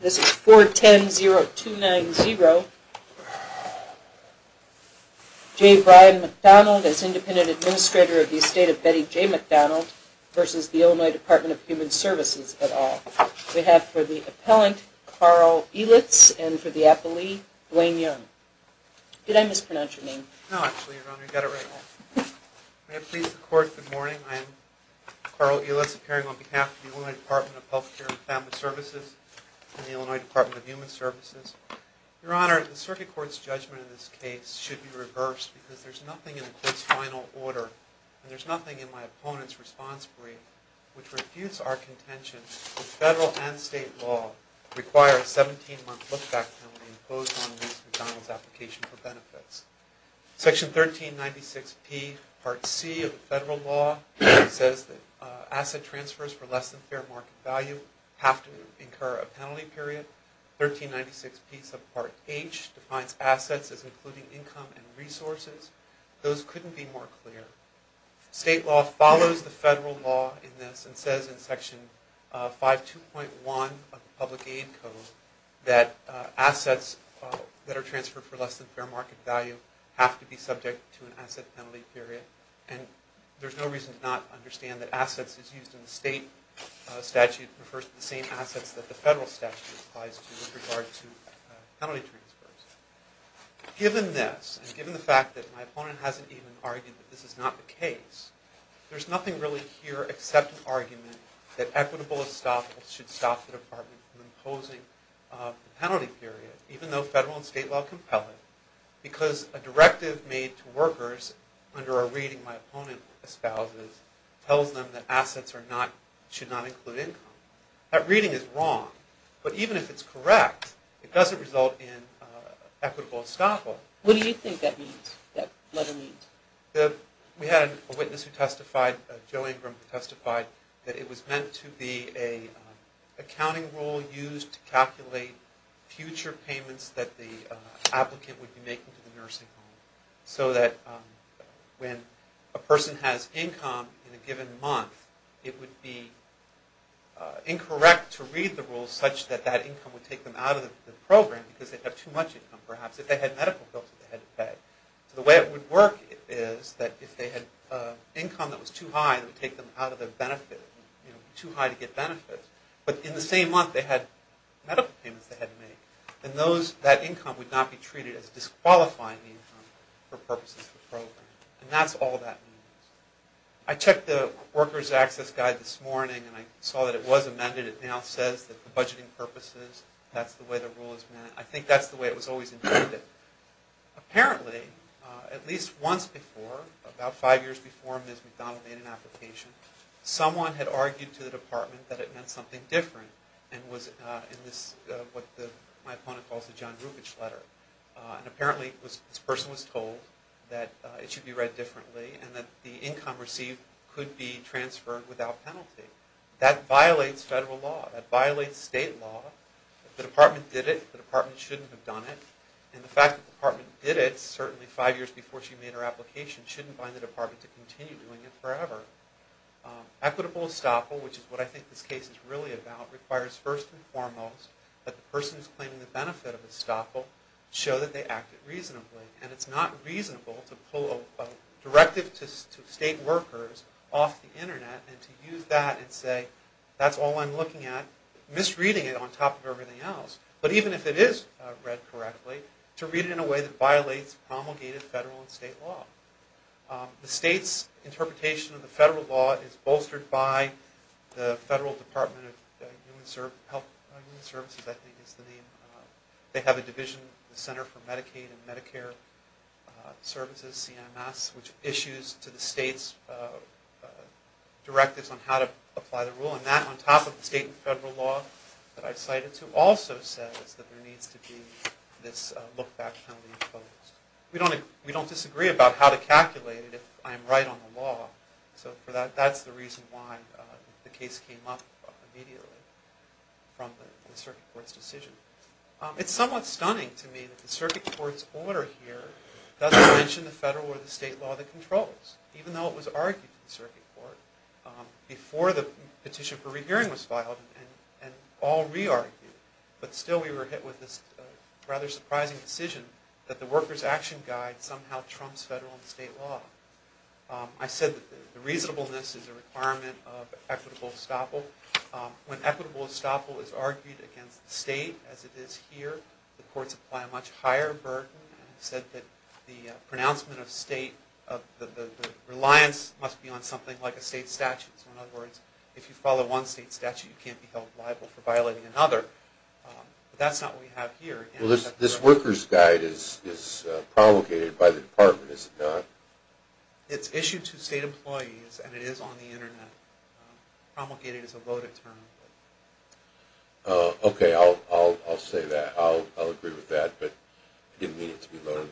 This is 410.0.290. Jay Brian McDonald as Independent Administrator of the Estate of Betty J. McDonald versus the Illinois Department of Human Services et al. We have for the Appellant, Carl Elitz and for the Appellee, Blaine Young. Did I mispronounce your name? No, actually, Your Honor, you got it right. May it please the Court, good morning. I am Carl Elitz from the Illinois Department of Human Services. Your Honor, the Circuit Court's judgment in this case should be reversed because there's nothing in the Court's final order and there's nothing in my opponent's response brief which refutes our contention that federal and state law require a 17-month look-back penalty imposed on a Mr. McDonald's application for benefits. Section 1396P Part C of the federal law says that asset transfers for less than fair market value have to incur a penalty period. 1396P Subpart H defines assets as including income and resources. Those couldn't be more clear. State law follows the federal law in this and says in Section 5.2.1 of the Public Aid Code that assets that are transferred for less than fair market value have to be subject to an asset penalty period and there's no reason to not understand that assets is used in the state statute refers to the same assets that the federal statute applies to with regard to penalty transfers. Given this and given the fact that my opponent hasn't even argued that this is not the case, there's nothing really here except an argument that equitable estoppels should stop the Department from imposing a penalty period, even though federal and state law compel it, because a reading my opponent espouses tells them that assets should not include income. That reading is wrong, but even if it's correct, it doesn't result in equitable estoppel. What do you think that letter means? We had a witness who testified, Joe Ingram, who testified that it was meant to be an accounting rule used to calculate future payments that the applicant would be making to the nursing home so that when a person has income in a given month, it would be incorrect to read the rules such that that income would take them out of the program because they'd have too much income perhaps. If they had medical bills that they had to pay. So the way it would work is that if they had income that was too high, it would take them out of their benefit, too high to get benefits. But in the same month they had medical payments they had to make, then that income would not be used for purposes of the program. And that's all that means. I checked the worker's access guide this morning and I saw that it was amended. It now says that for budgeting purposes, that's the way the rule is meant. I think that's the way it was always intended. Apparently, at least once before, about five years before Ms. McDonald made an application, someone had argued to the department that it meant something different and was in what my opponent calls the John Rubich letter. And apparently this person was told that it should be read differently and that the income received could be transferred without penalty. That violates federal law. That violates state law. If the department did it, the department shouldn't have done it. And the fact that the department did it, certainly five years before she made her application, shouldn't bind the department to continue doing it forever. Equitable estoppel, which is what I think this case is really about, requires first and foremost that the person who's claiming the benefit of estoppel show that they acted reasonably. And it's not reasonable to pull a directive to state workers off the Internet and to use that and say, that's all I'm looking at, misreading it on top of everything else. But even if it is read correctly, to read it in a way that violates promulgated federal and state law. The state's interpretation of the federal law is bolstered by the Federal Department of Human Services, I think is the name. They have a division, the Center for Medicaid and Medicare Services, CMS, which issues to the state's directives on how to apply the rule. And that, on top of the state and federal law that I cited, also says that there needs to be this look-back penalty imposed. We don't disagree about how to calculate it if I'm right on the law. So that's the reason why the case came up immediately from the circuit court's decision. It's somewhat stunning to me that the circuit court's order here doesn't mention the federal or the state law that controls, even though it was argued in the circuit court before the petition for rehearing was filed and all re-argued. But still we were hit with this rather surprising decision that the workers' action guide somehow trumps federal and state law. I said that the reasonableness is a requirement of equitable estoppel. When equitable estoppel is argued against the state, as it is here, the courts apply a much higher burden and said that the pronouncement of state, the reliance must be on something like a state statute. So in other words, if you follow one state statute, you can't be held liable for violating another. But that's not what we have here. This workers' guide is promulgated by the department, is it not? It's issued to state employees and it is on the internet. Promulgated is a loaded term. Okay, I'll say that. I'll agree with that. But I didn't mean it to be loaded.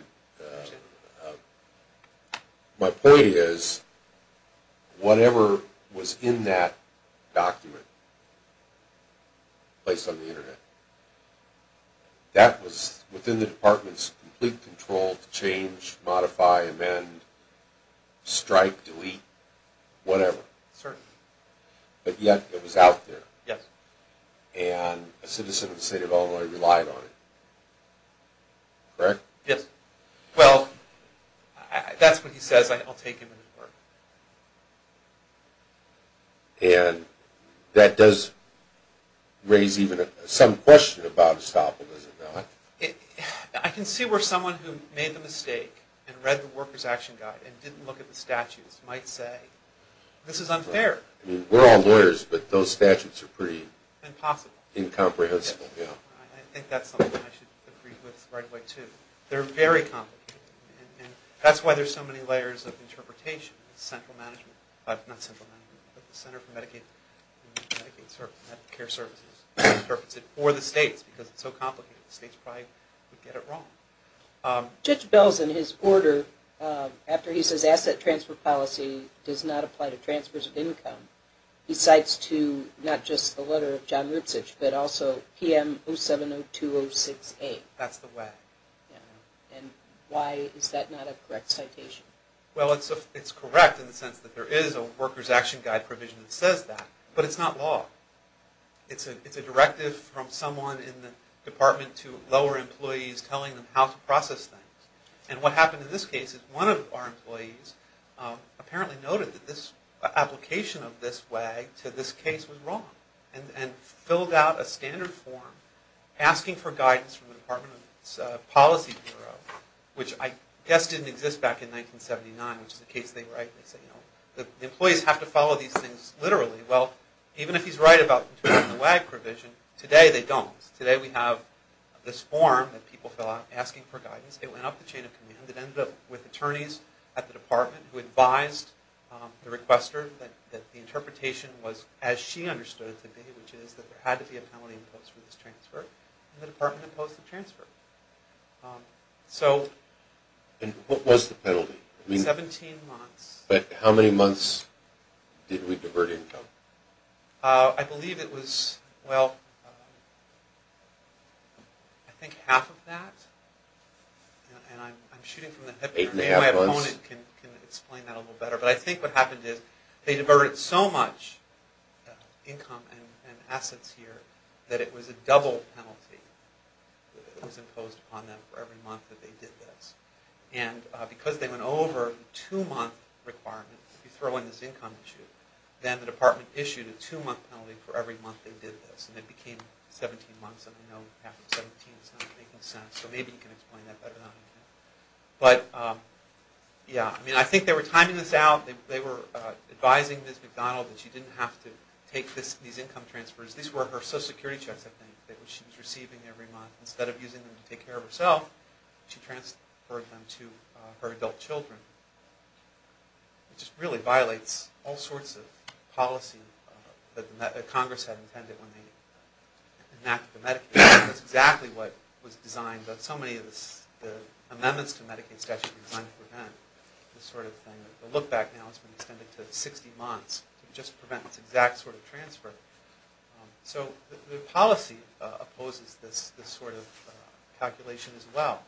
My point is, whatever was in that document placed on the internet, that was within the department's complete control to change, modify, amend, strike, delete, whatever. Certainly. But yet it was out there. Yes. And a citizen of the state of Illinois relied on it. Correct? Yes. Well, that's what he says. I'll take him into court. And that does raise even some question about estopel, does it not? I can see where someone who made the mistake and read the workers' action guide and didn't look at the statutes might say, this is unfair. We're all lawyers, but those statutes are pretty incomprehensible. I think that's something I should agree with right away, too. They're very complicated. That's why there's so many layers of interpretation. The Center for Medicaid and Medicare Services interprets it for the states because it's so complicated. The states probably would get it wrong. Judge Bell's in his order after he says asset transfer policy does not apply to transfers of income, he cites to not just the letter of John Rutzisch, but also PM 0702068. That's the WAG. And why is that not a correct citation? Well, it's correct in the sense that there is a workers' action guide provision that says that, but it's not law. It's a directive from someone in the department to lower employees telling them how to process things. And what happened in this case is one of our employees apparently noted that this application of this WAG to this case was wrong and filled out a standard form asking for guidance from the Department of Policy Bureau, which I guess didn't exist back in 1979, which is the case they write. They say, you know, the employees have to follow these things literally. Well, even if he's right about the WAG provision, today they don't. Today we have this form that people fill out asking for guidance. It went up the chain of command. It ended up with attorneys at the department who advised the requester that the interpretation was as she understood it to be, which is that there had to be a penalty imposed for this transfer, and the department imposed the transfer. And what was the penalty? 17 months. But how many months did we divert income? I believe it was, well, I think half of that. And I'm shooting from the hip here. Eight and a half months. Maybe my opponent can explain that a little better. But I think what happened is they diverted so much income and assets here that it was a double penalty that was imposed upon them for every month that they did this. And because they went over the two-month requirement, if you throw in this income issue, then the department issued a two-month penalty for every month they did this. And it became 17 months, and I know half of 17 is not making sense. So maybe you can explain that better than I can. But, yeah, I mean, I think they were timing this out. They were advising Ms. McDonald that she didn't have to take these income transfers. These were her Social Security checks, I think, that she was receiving every month. Instead of using them to take care of herself, she transferred them to her adult children. It just really violates all sorts of policy that Congress had intended when they enacted the Medicaid statute. That's exactly what was designed. But so many of the amendments to the Medicaid statute were designed to prevent this sort of thing. If you look back now, it's been extended to 60 months to just prevent this exact sort of transfer. So the policy opposes this sort of calculation as well.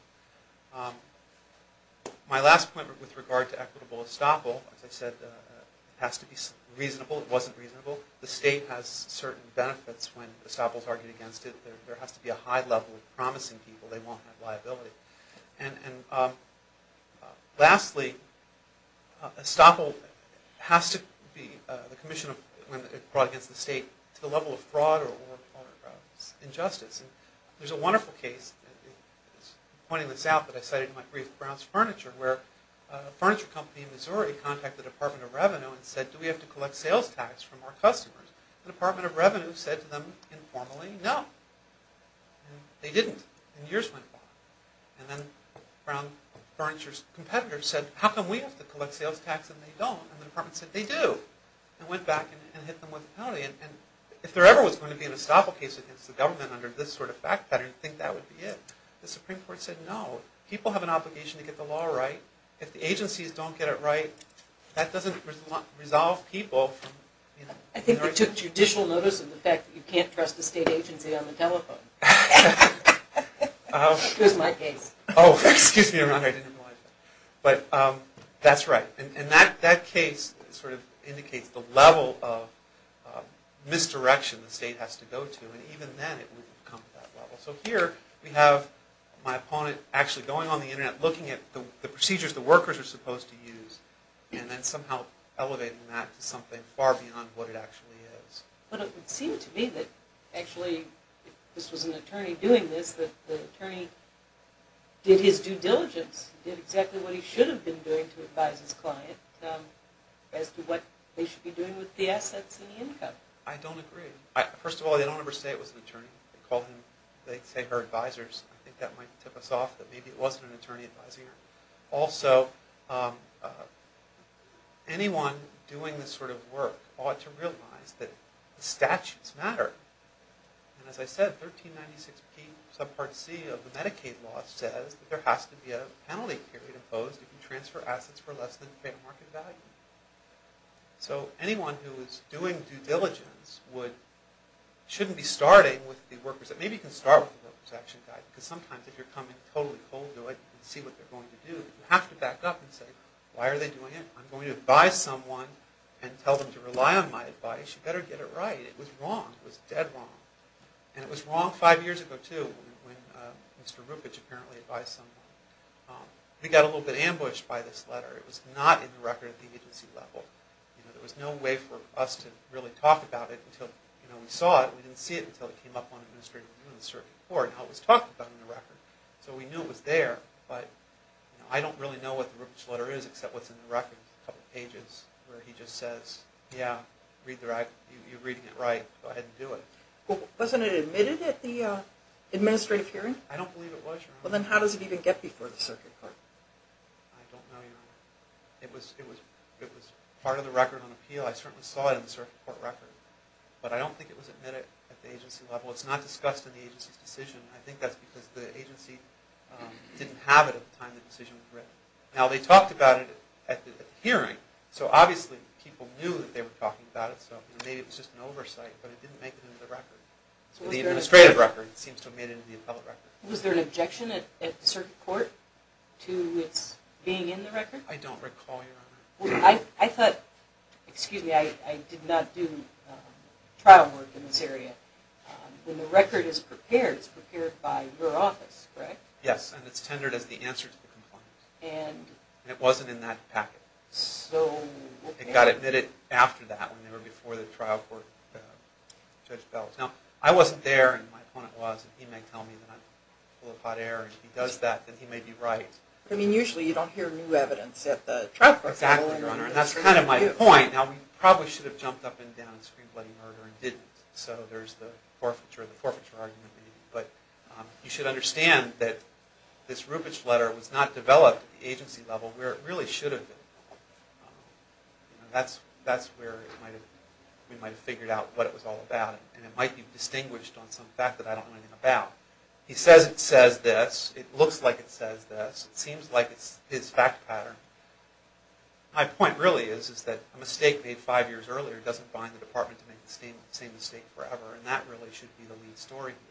My last point with regard to equitable estoppel, as I said, it has to be reasonable. It wasn't reasonable. The state has certain benefits when estoppels argue against it. There has to be a high level of promising people. They won't have liability. Lastly, estoppel has to be brought against the state to the level of fraud or injustice. There's a wonderful case, and I'm pointing this out, but I cite it in my brief, Brown's Furniture, where a furniture company in Missouri contacted the Department of Revenue and said, do we have to collect sales tax from our customers? The Department of Revenue said to them informally, no. And they didn't. And years went by. And then Brown Furniture's competitors said, how come we have to collect sales tax and they don't? And the Department said, they do. And went back and hit them with a penalty. And if there ever was going to be an estoppel case against the government under this sort of fact pattern, I think that would be it. The Supreme Court said, no. People have an obligation to get the law right. If the agencies don't get it right, that doesn't resolve people. I think they took judicial notice of the fact that you can't trust the state agency on the telephone. That was my case. Oh, excuse me, Your Honor. I didn't realize that. But that's right. And that case sort of indicates the level of misdirection the state has to go to. And even then it wouldn't come to that level. So here we have my opponent actually going on the Internet, looking at the procedures the workers are supposed to use, and then somehow elevating that to something far beyond what it actually is. But it would seem to me that actually, if this was an attorney doing this, that the attorney did his due diligence, did exactly what he should have been doing to advise his client as to what they should be doing with the assets and the income. I don't agree. First of all, they don't ever say it was an attorney. They say they're advisers. I think that might tip us off that maybe it wasn't an attorney advising her. Also, anyone doing this sort of work ought to realize that the statutes matter. And as I said, 1396P subpart C of the Medicaid law says that there has to be a penalty period imposed if you transfer assets for less than fair market value. So anyone who is doing due diligence shouldn't be starting with the workers. Maybe you can start with the workers' action guide. Because sometimes if you're coming totally cold to it and see what they're going to do, you have to back up and say, why are they doing it? I'm going to advise someone and tell them to rely on my advice. You better get it right. It was wrong. It was dead wrong. And it was wrong five years ago, too, when Mr. Rupich apparently advised someone. We got a little bit ambushed by this letter. It was not in the record at the agency level. There was no way for us to really talk about it until we saw it. We didn't see it until it came up on administrative review in the circuit court and how it was talked about in the record. So we knew it was there, but I don't really know what the Rupich letter is except what's in the record, a couple of pages where he just says, yeah, you're reading it right. Go ahead and do it. Wasn't it admitted at the administrative hearing? I don't believe it was, Your Honor. Well, then how does it even get before the circuit court? I don't know, Your Honor. It was part of the record on appeal. I certainly saw it in the circuit court record, but I don't think it was admitted at the agency level. It's not discussed in the agency's decision. I think that's because the agency didn't have it at the time the decision was written. Now, they talked about it at the hearing, so obviously people knew that they were talking about it. So maybe it was just an oversight, but it didn't make it into the record. The administrative record seems to have made it into the appellate record. Was there an objection at the circuit court to its being in the record? I don't recall, Your Honor. I thought, excuse me, I did not do trial work in this area. When the record is prepared, it's prepared by your office, correct? Yes, and it's tendered as the answer to the complaint. And it wasn't in that packet. So, okay. It got admitted after that, when they were before the trial court, Judge Bell. Now, I wasn't there, and my opponent was, and he may tell me that I'm full of hot air, and if he does that, then he may be right. I mean, usually you don't hear new evidence at the trial court. Exactly, Your Honor, and that's kind of my point. Now, we probably should have jumped up and down in screen-bloody murder and didn't, so there's the forfeiture and the forfeiture argument. But you should understand that this Rupich letter was not developed at the agency level where it really should have been. That's where we might have figured out what it was all about, and it might be distinguished on some fact that I don't know anything about. He says it says this. It looks like it says this. It seems like it's his fact pattern. My point really is that a mistake made five years earlier doesn't bind the department to make the same mistake forever, and that really should be the lead story here.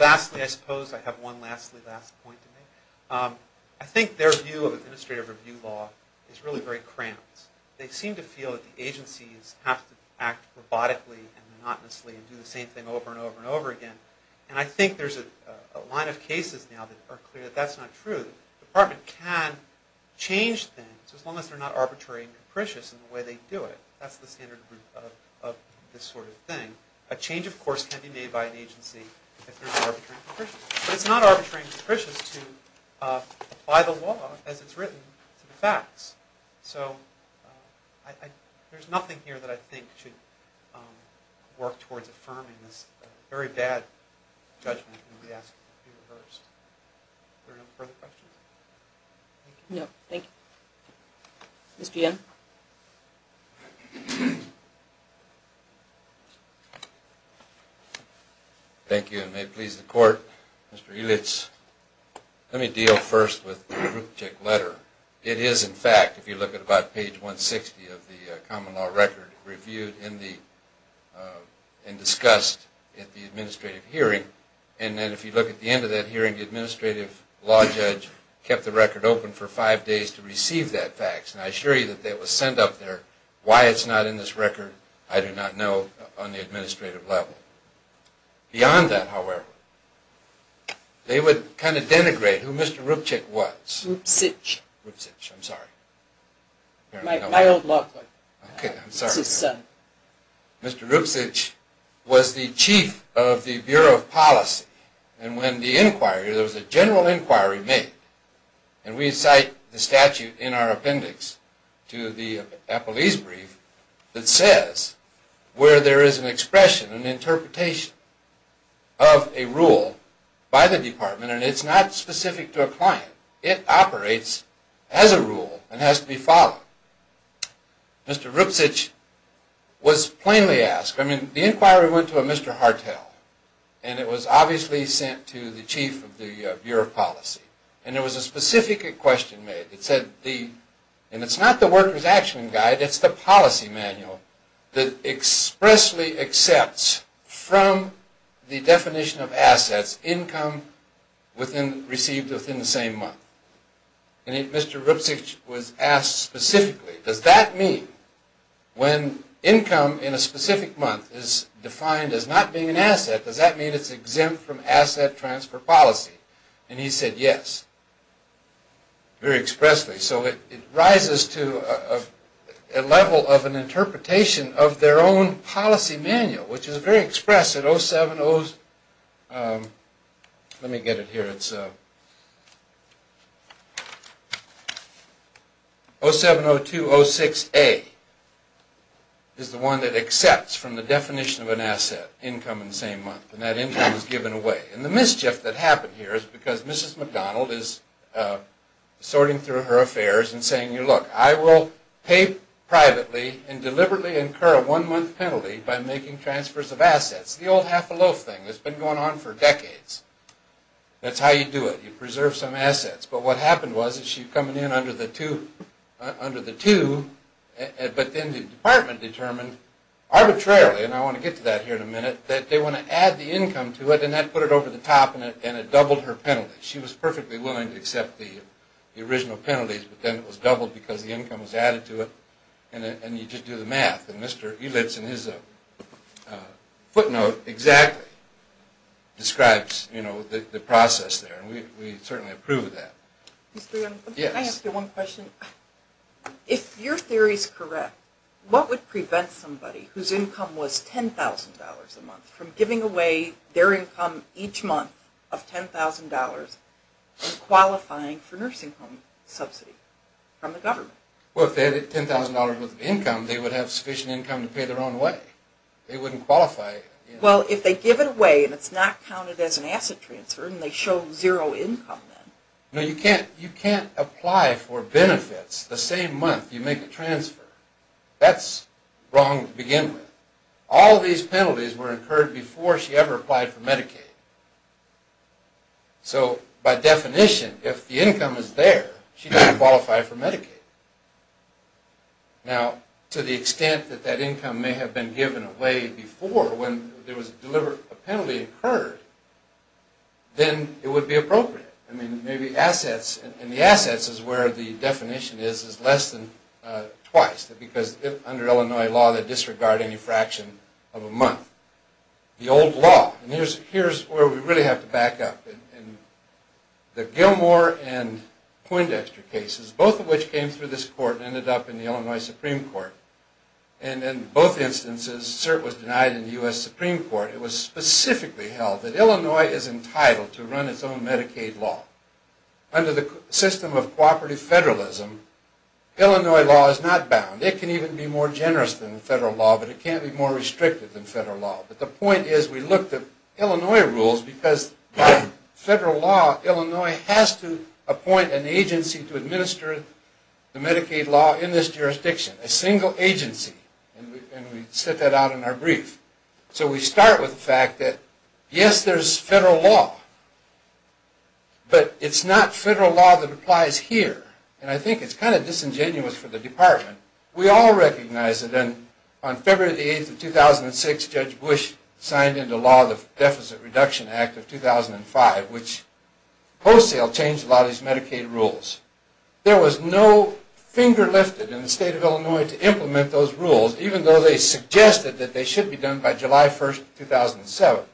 Lastly, I suppose I have one last point to make. I think their view of administrative review law is really very cramped. They seem to feel that the agencies have to act robotically and monotonously and do the same thing over and over and over again, and I think there's a line of cases now that are clear that that's not true. The department can change things as long as they're not arbitrary and capricious in the way they do it. That's the standard of this sort of thing. A change, of course, can be made by an agency if they're not arbitrary and capricious, but it's not arbitrary and capricious to apply the law as it's written to the facts. So there's nothing here that I think should work towards affirming this very bad judgment and we ask that it be reversed. Are there no further questions? No, thank you. Mr. Young? Thank you, and may it please the Court. Mr. Eulitz, let me deal first with the proof-check letter. It is, in fact, if you look at about page 160 of the common law record, reviewed and discussed at the administrative hearing, and then if you look at the end of that hearing, the administrative law judge kept the record open for five days to receive that fax, and I assure you that that was sent up there. Why it's not in this record, I do not know on the administrative level. Beyond that, however, they would kind of denigrate who Mr. Rupchik was. Rupchik. Rupchik, I'm sorry. My old law clerk. Okay, I'm sorry. Mr. Rupchik was the chief of the Bureau of Policy, and when the inquiry, there was a general inquiry made, and we cite the statute in our appendix to the Appellee's brief that says where there is an expression, an interpretation of a rule by the department, and it's not specific to a client. It operates as a rule and has to be followed. Mr. Rupchik was plainly asked. I mean, the inquiry went to a Mr. Hartel, and it was obviously sent to the chief of the Bureau of Policy, and there was a specific question made. It said, and it's not the worker's action guide, it's the policy manual that expressly accepts from the definition of assets income received within the same month. And Mr. Rupchik was asked specifically, does that mean when income in a specific month is defined as not being an asset, does that mean it's exempt from asset transfer policy? And he said yes, very expressly. So it rises to a level of an interpretation of their own policy manual, which is very expressive. Let me get it here. It's 070206A is the one that accepts from the definition of an asset, income in the same month, and that income is given away. And the mischief that happened here is because Mrs. McDonald is sorting through her affairs and saying, look, I will pay privately and deliberately incur a one-month penalty by making transfers of assets, the old half-a-loaf thing that's been going on for decades. That's how you do it. You preserve some assets. But what happened was that she's coming in under the two, but then the department determined arbitrarily, and I want to get to that here in a minute, that they want to add the income to it, and that put it over the top, and it doubled her penalty. She was perfectly willing to accept the original penalties, but then it was doubled because the income was added to it, and you just do the math. And Mr. Elitz in his footnote exactly describes the process there, and we certainly approve of that. Mr. Young, can I ask you one question? Yes. If your theory is correct, what would prevent somebody whose income was $10,000 a month from giving away their income each month of $10,000 and qualifying for nursing home subsidy from the government? Well, if they had $10,000 worth of income, they would have sufficient income to pay their own way. They wouldn't qualify. Well, if they give it away and it's not counted as an asset transfer and they show zero income then. No, you can't apply for benefits the same month you make a transfer. That's wrong to begin with. All these penalties were incurred before she ever applied for Medicaid. So, by definition, if the income is there, she doesn't qualify for Medicaid. Now, to the extent that that income may have been given away before when there was a penalty incurred, then it would be appropriate. I mean, maybe assets, and the assets is where the definition is, is less than twice, because under Illinois law they disregard any fraction of a month. The old law, and here's where we really have to back up. The Gilmore and Poindexter cases, both of which came through this court and ended up in the Illinois Supreme Court, and in both instances cert was denied in the U.S. Supreme Court. It was specifically held that Illinois is entitled to run its own Medicaid law. Under the system of cooperative federalism, Illinois law is not bound. It can even be more generous than federal law, but it can't be more restricted than federal law. But the point is we looked at Illinois rules, because by federal law, Illinois has to appoint an agency to administer the Medicaid law in this jurisdiction, a single agency, and we set that out in our brief. So we start with the fact that, yes, there's federal law, but it's not federal law that applies here, and I think it's kind of disingenuous for the department. We all recognize it, and on February 8, 2006, Judge Bush signed into law the Deficit Reduction Act of 2005, which wholesale changed a lot of these Medicaid rules. There was no finger lifted in the state of Illinois to implement those rules, even though they suggested that they should be done by July 1, 2007.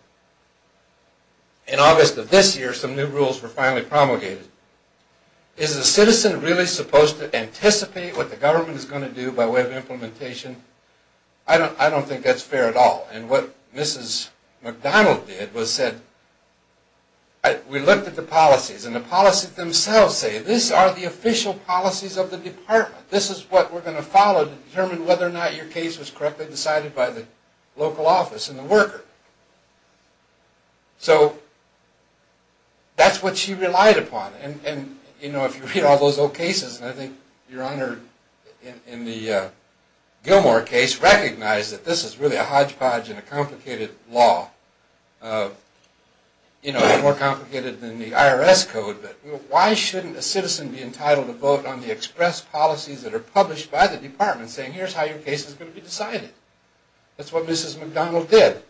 In August of this year, some new rules were finally promulgated. Is a citizen really supposed to anticipate what the government is going to do by way of implementation? I don't think that's fair at all, and what Mrs. McDonald did was said, we looked at the policies, and the policies themselves say, these are the official policies of the department. This is what we're going to follow to determine whether or not your case was correctly decided by the local office and the worker. So that's what she relied upon, and if you read all those old cases, and I think you're honored in the Gilmore case, recognize that this is really a hodgepodge and a complicated law. It's more complicated than the IRS code, but why shouldn't a citizen be entitled to vote on the express policies that are published by the department saying, here's how your case is going to be decided? That's what Mrs. McDonald did,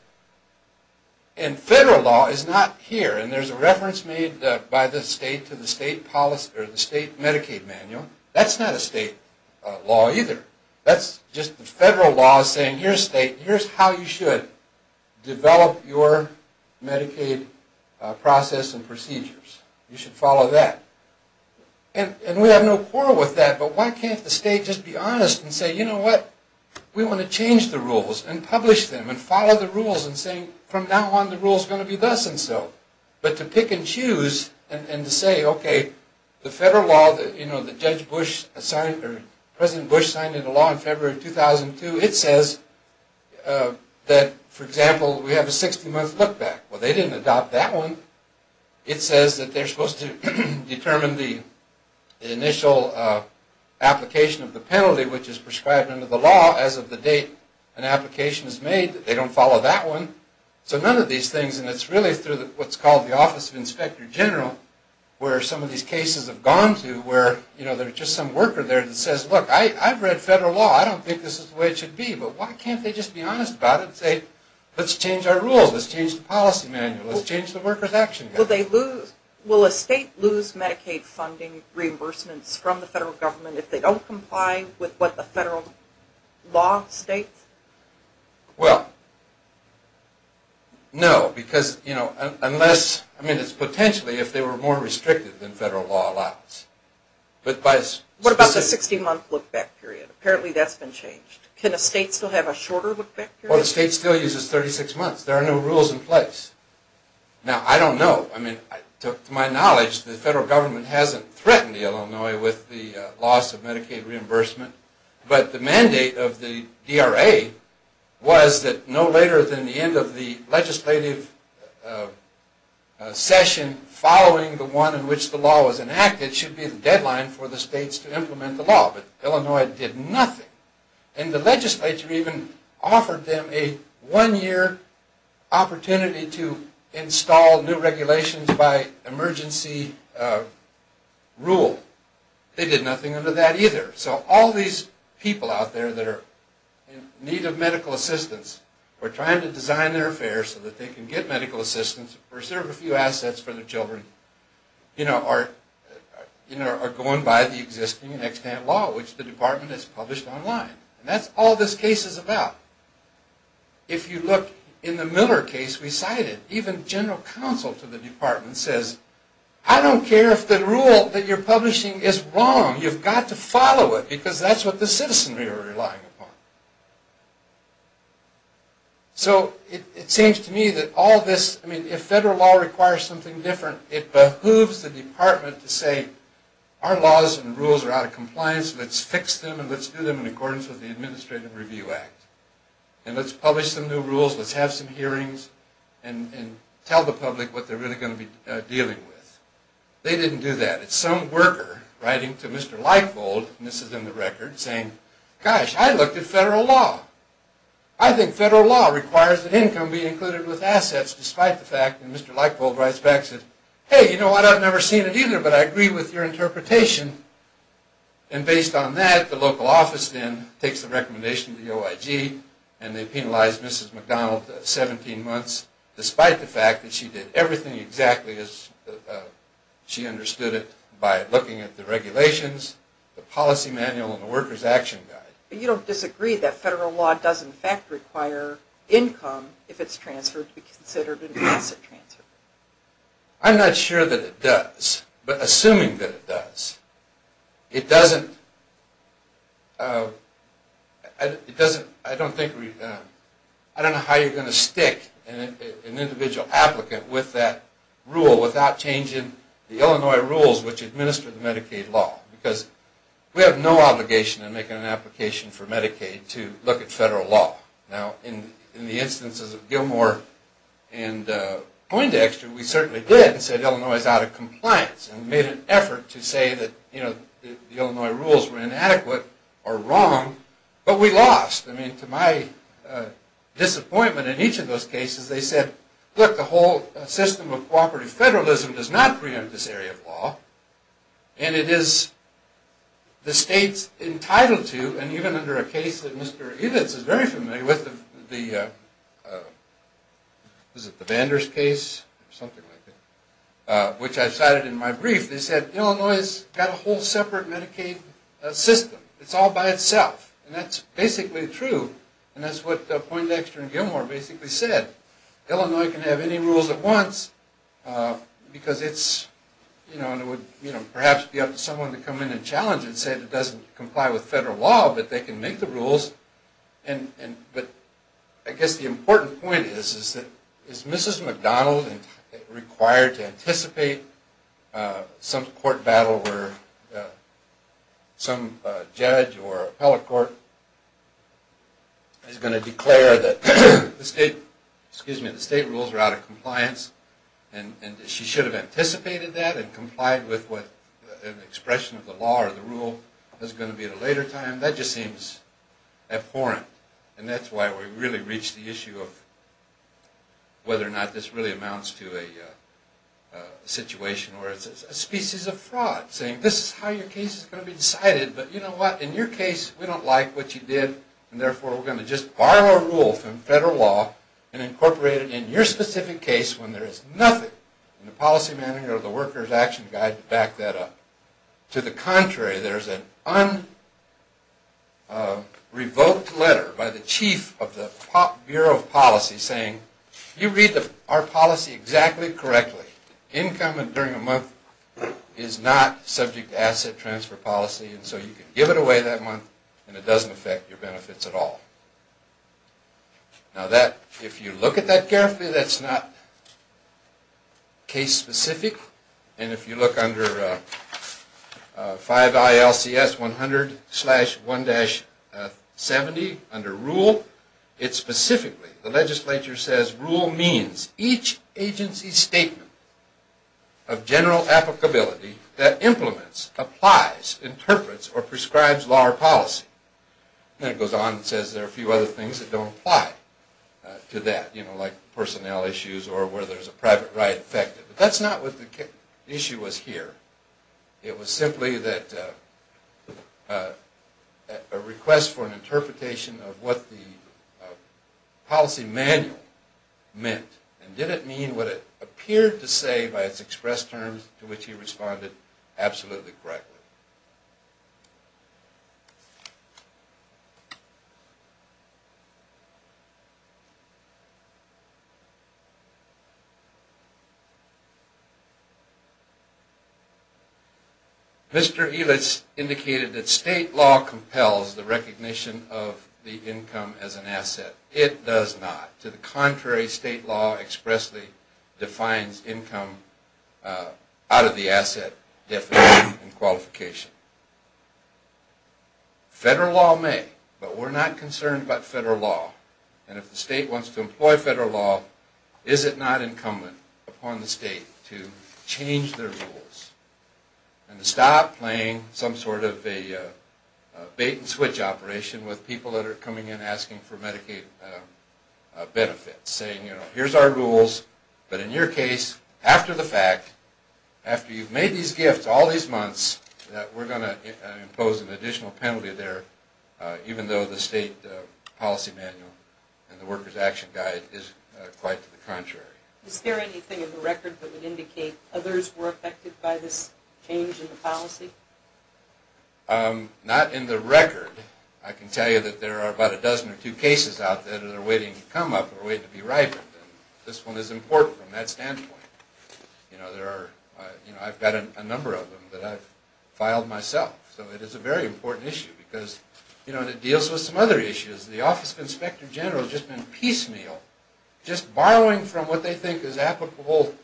and federal law is not here, and there's a reference made by the state to the state policy, or the state Medicaid manual. That's not a state law either. That's just the federal law saying, here's state, here's how you should develop your Medicaid process and procedures. You should follow that, and we have no quarrel with that, but why can't the state just be honest and say, you know what, we want to change the rules and publish them and follow the rules and say, from now on the rules are going to be thus and so, but to pick and choose and to say, okay, the federal law that President Bush signed into law in February of 2002, it says that, for example, we have a 60-month look-back. Well, they didn't adopt that one. It says that they're supposed to determine the initial application of the penalty, which is prescribed under the law as of the date an application is made. They don't follow that one. So none of these things, and it's really through what's called the Office of Inspector General, where some of these cases have gone to, where there's just some worker there that says, look, I've read federal law. I don't think this is the way it should be, but why can't they just be honest about it and say, let's change our rules. Let's change the policy manual. Let's change the workers' action guide. Will a state lose Medicaid funding reimbursements from the federal government if they don't comply with what the federal law states? Well, no, because, you know, unless, I mean, it's potentially if they were more restricted than federal law allows. What about the 60-month look-back period? Apparently that's been changed. Can a state still have a shorter look-back period? Well, the state still uses 36 months. There are no rules in place. Now, I don't know. I mean, to my knowledge, the federal government hasn't threatened Illinois with the loss of Medicaid reimbursement. But the mandate of the DRA was that no later than the end of the legislative session following the one in which the law was enacted should be the deadline for the states to implement the law. But Illinois did nothing. And the legislature even offered them a one-year opportunity to install new regulations by emergency rule. They did nothing under that either. So all these people out there that are in need of medical assistance or trying to design their affairs so that they can get medical assistance or reserve a few assets for their children, you know, are going by the existing and extant law, which the department has published online. And that's all this case is about. If you look in the Miller case we cited, even general counsel to the department says, I don't care if the rule that you're publishing is wrong. You've got to follow it because that's what the citizens are relying upon. So it seems to me that all this, I mean, if federal law requires something different, it behooves the department to say, our laws and rules are out of compliance. Let's fix them and let's do them in accordance with the Administrative Review Act. And let's publish some new rules, let's have some hearings, and tell the public what they're really going to be dealing with. They didn't do that. It's some worker writing to Mr. Leifold, and this is in the record, saying, gosh, I looked at federal law. I think federal law requires that income be included with assets despite the fact that Mr. Leifold writes back and says, hey, you know what, I've never seen it either, but I agree with your interpretation. And based on that, the local office then takes the recommendation to the OIG and they penalize Mrs. McDonald 17 months, despite the fact that she did everything exactly as she understood it by looking at the regulations, the policy manual, and the worker's action guide. But you don't disagree that federal law does in fact require income, if it's transferred, to be considered an asset transfer? I'm not sure that it does, but assuming that it does, it doesn't, I don't think, I don't know how you're going to stick an individual applicant with that rule without changing the Illinois rules which administer the Medicaid law, because we have no obligation in making an application for Medicaid to look at federal law. Now, in the instances of Gilmore and Poindexter, we certainly did, and said Illinois is out of compliance, and made an effort to say that the Illinois rules were inadequate or wrong, but we lost. I mean, to my disappointment in each of those cases, they said, look, the whole system of cooperative federalism does not preempt this area of law, and it is the states entitled to, and even under a case that Mr. Edens is very familiar with, the Vanders case, or something like that, which I cited in my brief, they said, Illinois has got a whole separate Medicaid system. It's all by itself, and that's basically true, and that's what Poindexter and Gilmore basically said. Illinois can have any rules it wants, because it's, you know, and it would perhaps be up to someone to come in and challenge it and say it doesn't comply with federal law, but they can make the rules, but I guess the important point is, is Mrs. McDonald required to anticipate some court battle where some judge or appellate court is going to declare that the state rules are out of compliance, and she should have anticipated that and complied with what the expression of the law or the rule is going to be at a later time. That just seems abhorrent, and that's why we've really reached the issue of whether or not this really amounts to a situation where it's a species of fraud, saying this is how your case is going to be decided, but you know what, in your case, we don't like what you did, and therefore we're going to just borrow a rule from federal law and incorporate it in your specific case when there is nothing in the policy manual or the worker's action guide to back that up. To the contrary, there's an un-revoked letter by the chief of the Bureau of Policy saying, you read our policy exactly correctly. Income during a month is not subject to asset transfer policy, and so you can give it away that month, and it doesn't affect your benefits at all. Now that, if you look at that carefully, that's not case-specific, and if you look under 5 ILCS 100-1-70, under rule, it specifically, the legislature says, rule means each agency statement of general applicability that implements, applies, interprets, or prescribes law or policy. Then it goes on and says there are a few other things that don't apply to that, like personnel issues or where there's a private ride affected. But that's not what the issue was here. It was simply that a request for an interpretation of what the policy manual meant and did it mean what it appeared to say by its express terms to which he responded absolutely correctly. Mr. Elitz indicated that state law compels the recognition of the income as an asset. It does not. To the contrary, state law expressly defines income out of the asset definition and qualification. Federal law may, but we're not concerned about federal law. And if the state wants to employ federal law, is it not incumbent upon the state to change their rules and to stop playing some sort of a bait-and-switch operation with people that are coming in asking for Medicaid benefits, saying, you know, here's our rules, but in your case, after the fact, after you've made these gifts all these months, that we're going to impose an additional penalty there even though the state policy manual and the worker's action guide is quite to the contrary. Is there anything in the record that would indicate others were affected by this change in the policy? Not in the record. I can tell you that there are about a dozen or two cases out there that are waiting to come up or waiting to be ripened. This one is important from that standpoint. I've got a number of them that I've filed myself. So it is a very important issue because it deals with some other issues. The Office of Inspector General has just been piecemeal just borrowing from what they think is applicable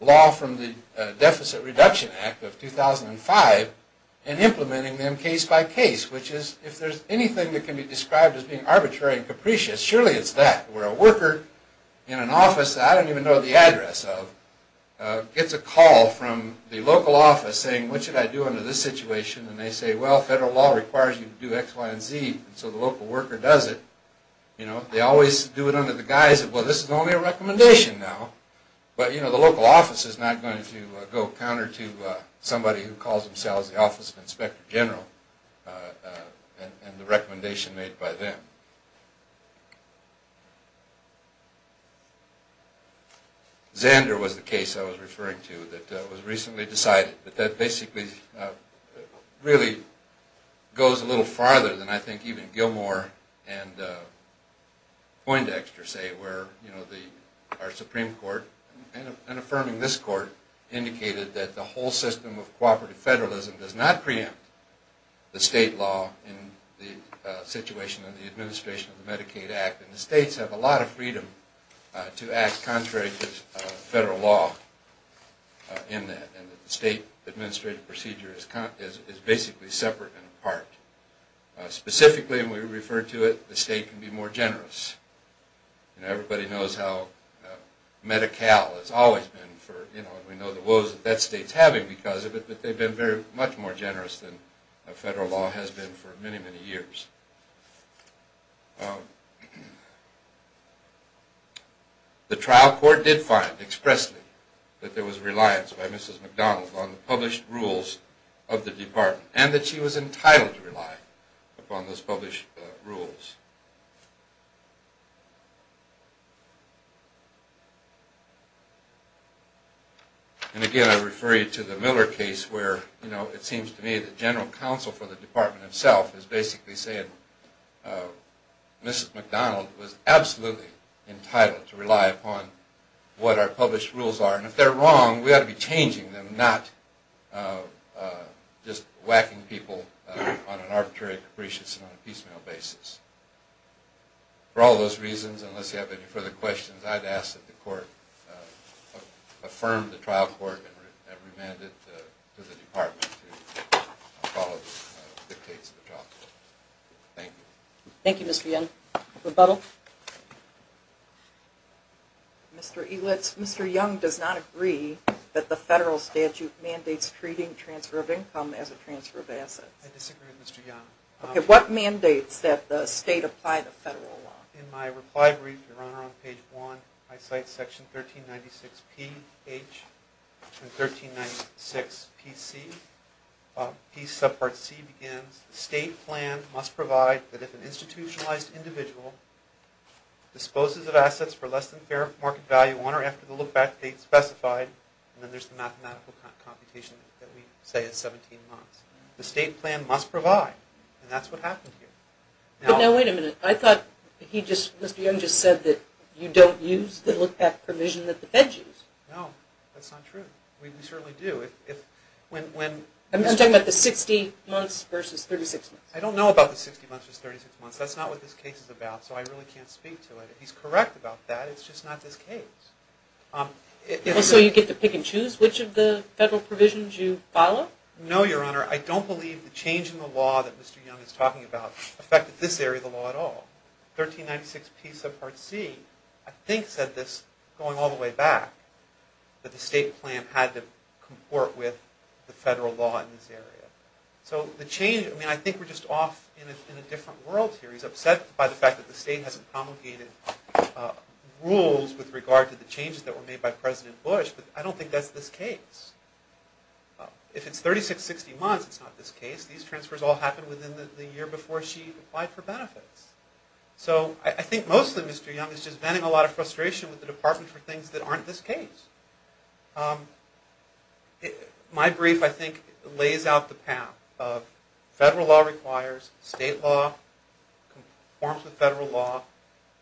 law from the Deficit Reduction Act of 2005 and implementing them case-by-case, which is, if there's anything that can be described as being arbitrary and capricious, surely it's that. Where a worker in an office that I don't even know the address of gets a call from the local office saying, what should I do under this situation? And they say, well, federal law requires you to do X, Y, and Z and so the local worker does it. They always do it under the guise of, well, this is only a recommendation now. But the local office is not going to go counter to somebody who calls themselves the Office of Inspector General and the recommendation made by them. Zander was the case I was referring to that was recently decided. But that basically really goes a little farther than I think even Gilmore and Poindexter say where our Supreme Court and affirming this court indicated that the whole system of cooperative federalism does not preempt the state law in the situation of the administration of the Medicaid Act. And the states have a lot of freedom to act contrary to federal law in that. And the state administrative procedure is basically separate and apart. Specifically, and we refer to it, the state can be more generous. Everybody knows how Medi-Cal has always been and we know the woes that state's having because of it but they've been much more generous than federal law has been for many, many years. The trial court did find expressly that there was reliance by Mrs. McDonald on the published rules of the department and that she was entitled to rely upon those published rules. And again, I refer you to the Miller case where it seems to me the general counsel for the department itself is basically saying Mrs. McDonald was absolutely entitled to rely upon what our published rules are. And if they're wrong, we ought to be changing them not just whacking people on an arbitrary and capricious and piecemeal basis. For all those reasons, unless you have any further questions, I'd ask that the court affirm the trial court and remand it to the department to follow the case of the trial court. Thank you. Mr. Young does not agree that the federal statute mandates treating transfer of income as a transfer of assets. I disagree with Mr. Young. What mandates that the state apply the federal law? In my reply brief, Your Honor, on page 1, I cite section 1396P-H and 1396P-C. P subpart C begins, the state plan must provide that if an institutionalized individual disposes of assets for less than fair market value on or after the look-back date specified, and then there's the mathematical computation that we say is 17 months, the state plan must provide. And that's what happened here. But now wait a minute. I thought Mr. Young just said that you don't use the look-back provision that the feds use. No, that's not true. We certainly do. I'm talking about the 60 months versus 36 months. I don't know about the 60 months versus 36 months. That's not what this case is about, so I really can't speak to it. If he's correct about that, it's just not this case. So you get to pick and choose which of the federal provisions you follow? No, Your Honor, I don't believe the change in the law that Mr. Young is talking about affected this area of the law at all. 1396P subpart C, I think, said this going all the way back, that the state plan had to comport with the federal law in this area. I think we're just off in a different world here. He's upset by the fact that the state hasn't promulgated rules with regard to the changes that were made by President Bush, but I don't think that's this case. If it's 36-60 months, it's not this case. These transfers all happened within the year before she applied for benefits. So I think mostly Mr. Young is just venting a lot of frustration with the Department for things that aren't this case. My brief, I think, lays out the path of federal law requires, state law conforms with federal law,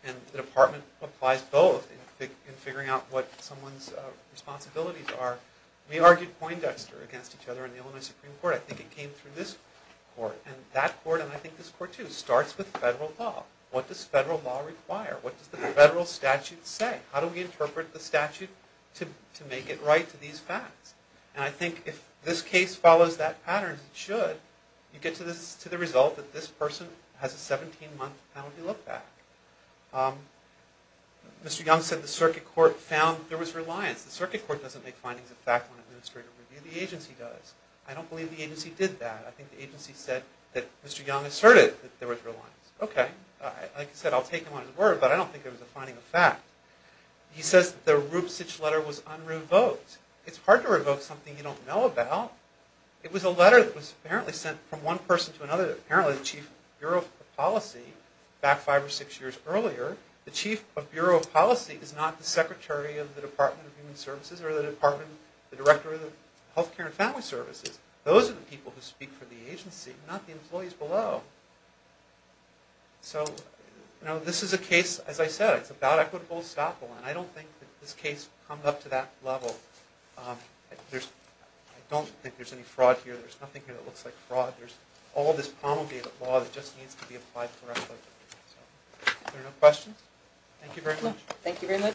and the Department applies both in figuring out what someone's responsibilities are. We argued Poindexter against each other in the Illinois Supreme Court. I think it came through this court, and that court, and I think this court too, starts with federal law. What does federal law require? What does the federal statute say? How do we interpret the statute to make it right to these facts? And I think if this case follows that pattern, it should. You get to the result that this person has a 17-month penalty look-back. Mr. Young said the circuit court found there was reliance. The circuit court doesn't make findings of fact when an administrator reviews. The agency does. I don't believe the agency did that. I think the agency said that Mr. Young asserted that there was reliance. Okay. Like I said, I'll take him on his word, but I don't think there was a finding of fact. He says the Rube Sitch letter was un-revoked. It's hard to revoke something you don't know about. It was a letter that was apparently sent from one person to another, apparently the Chief of Bureau of Policy, back 5 or 6 years earlier. The Chief of Bureau of Policy is not the Secretary of the Department of Human Services or the Director of the Health Care and Family Services. Those are the people who speak for the agency, not the employees below. So this is a case, as I said, it's about equitable estoppel. And I don't think this case comes up to that level. I don't think there's any fraud here. There's nothing here that looks like fraud. There's all this promulgated law that just needs to be applied correctly. Are there no questions? Thank you very much.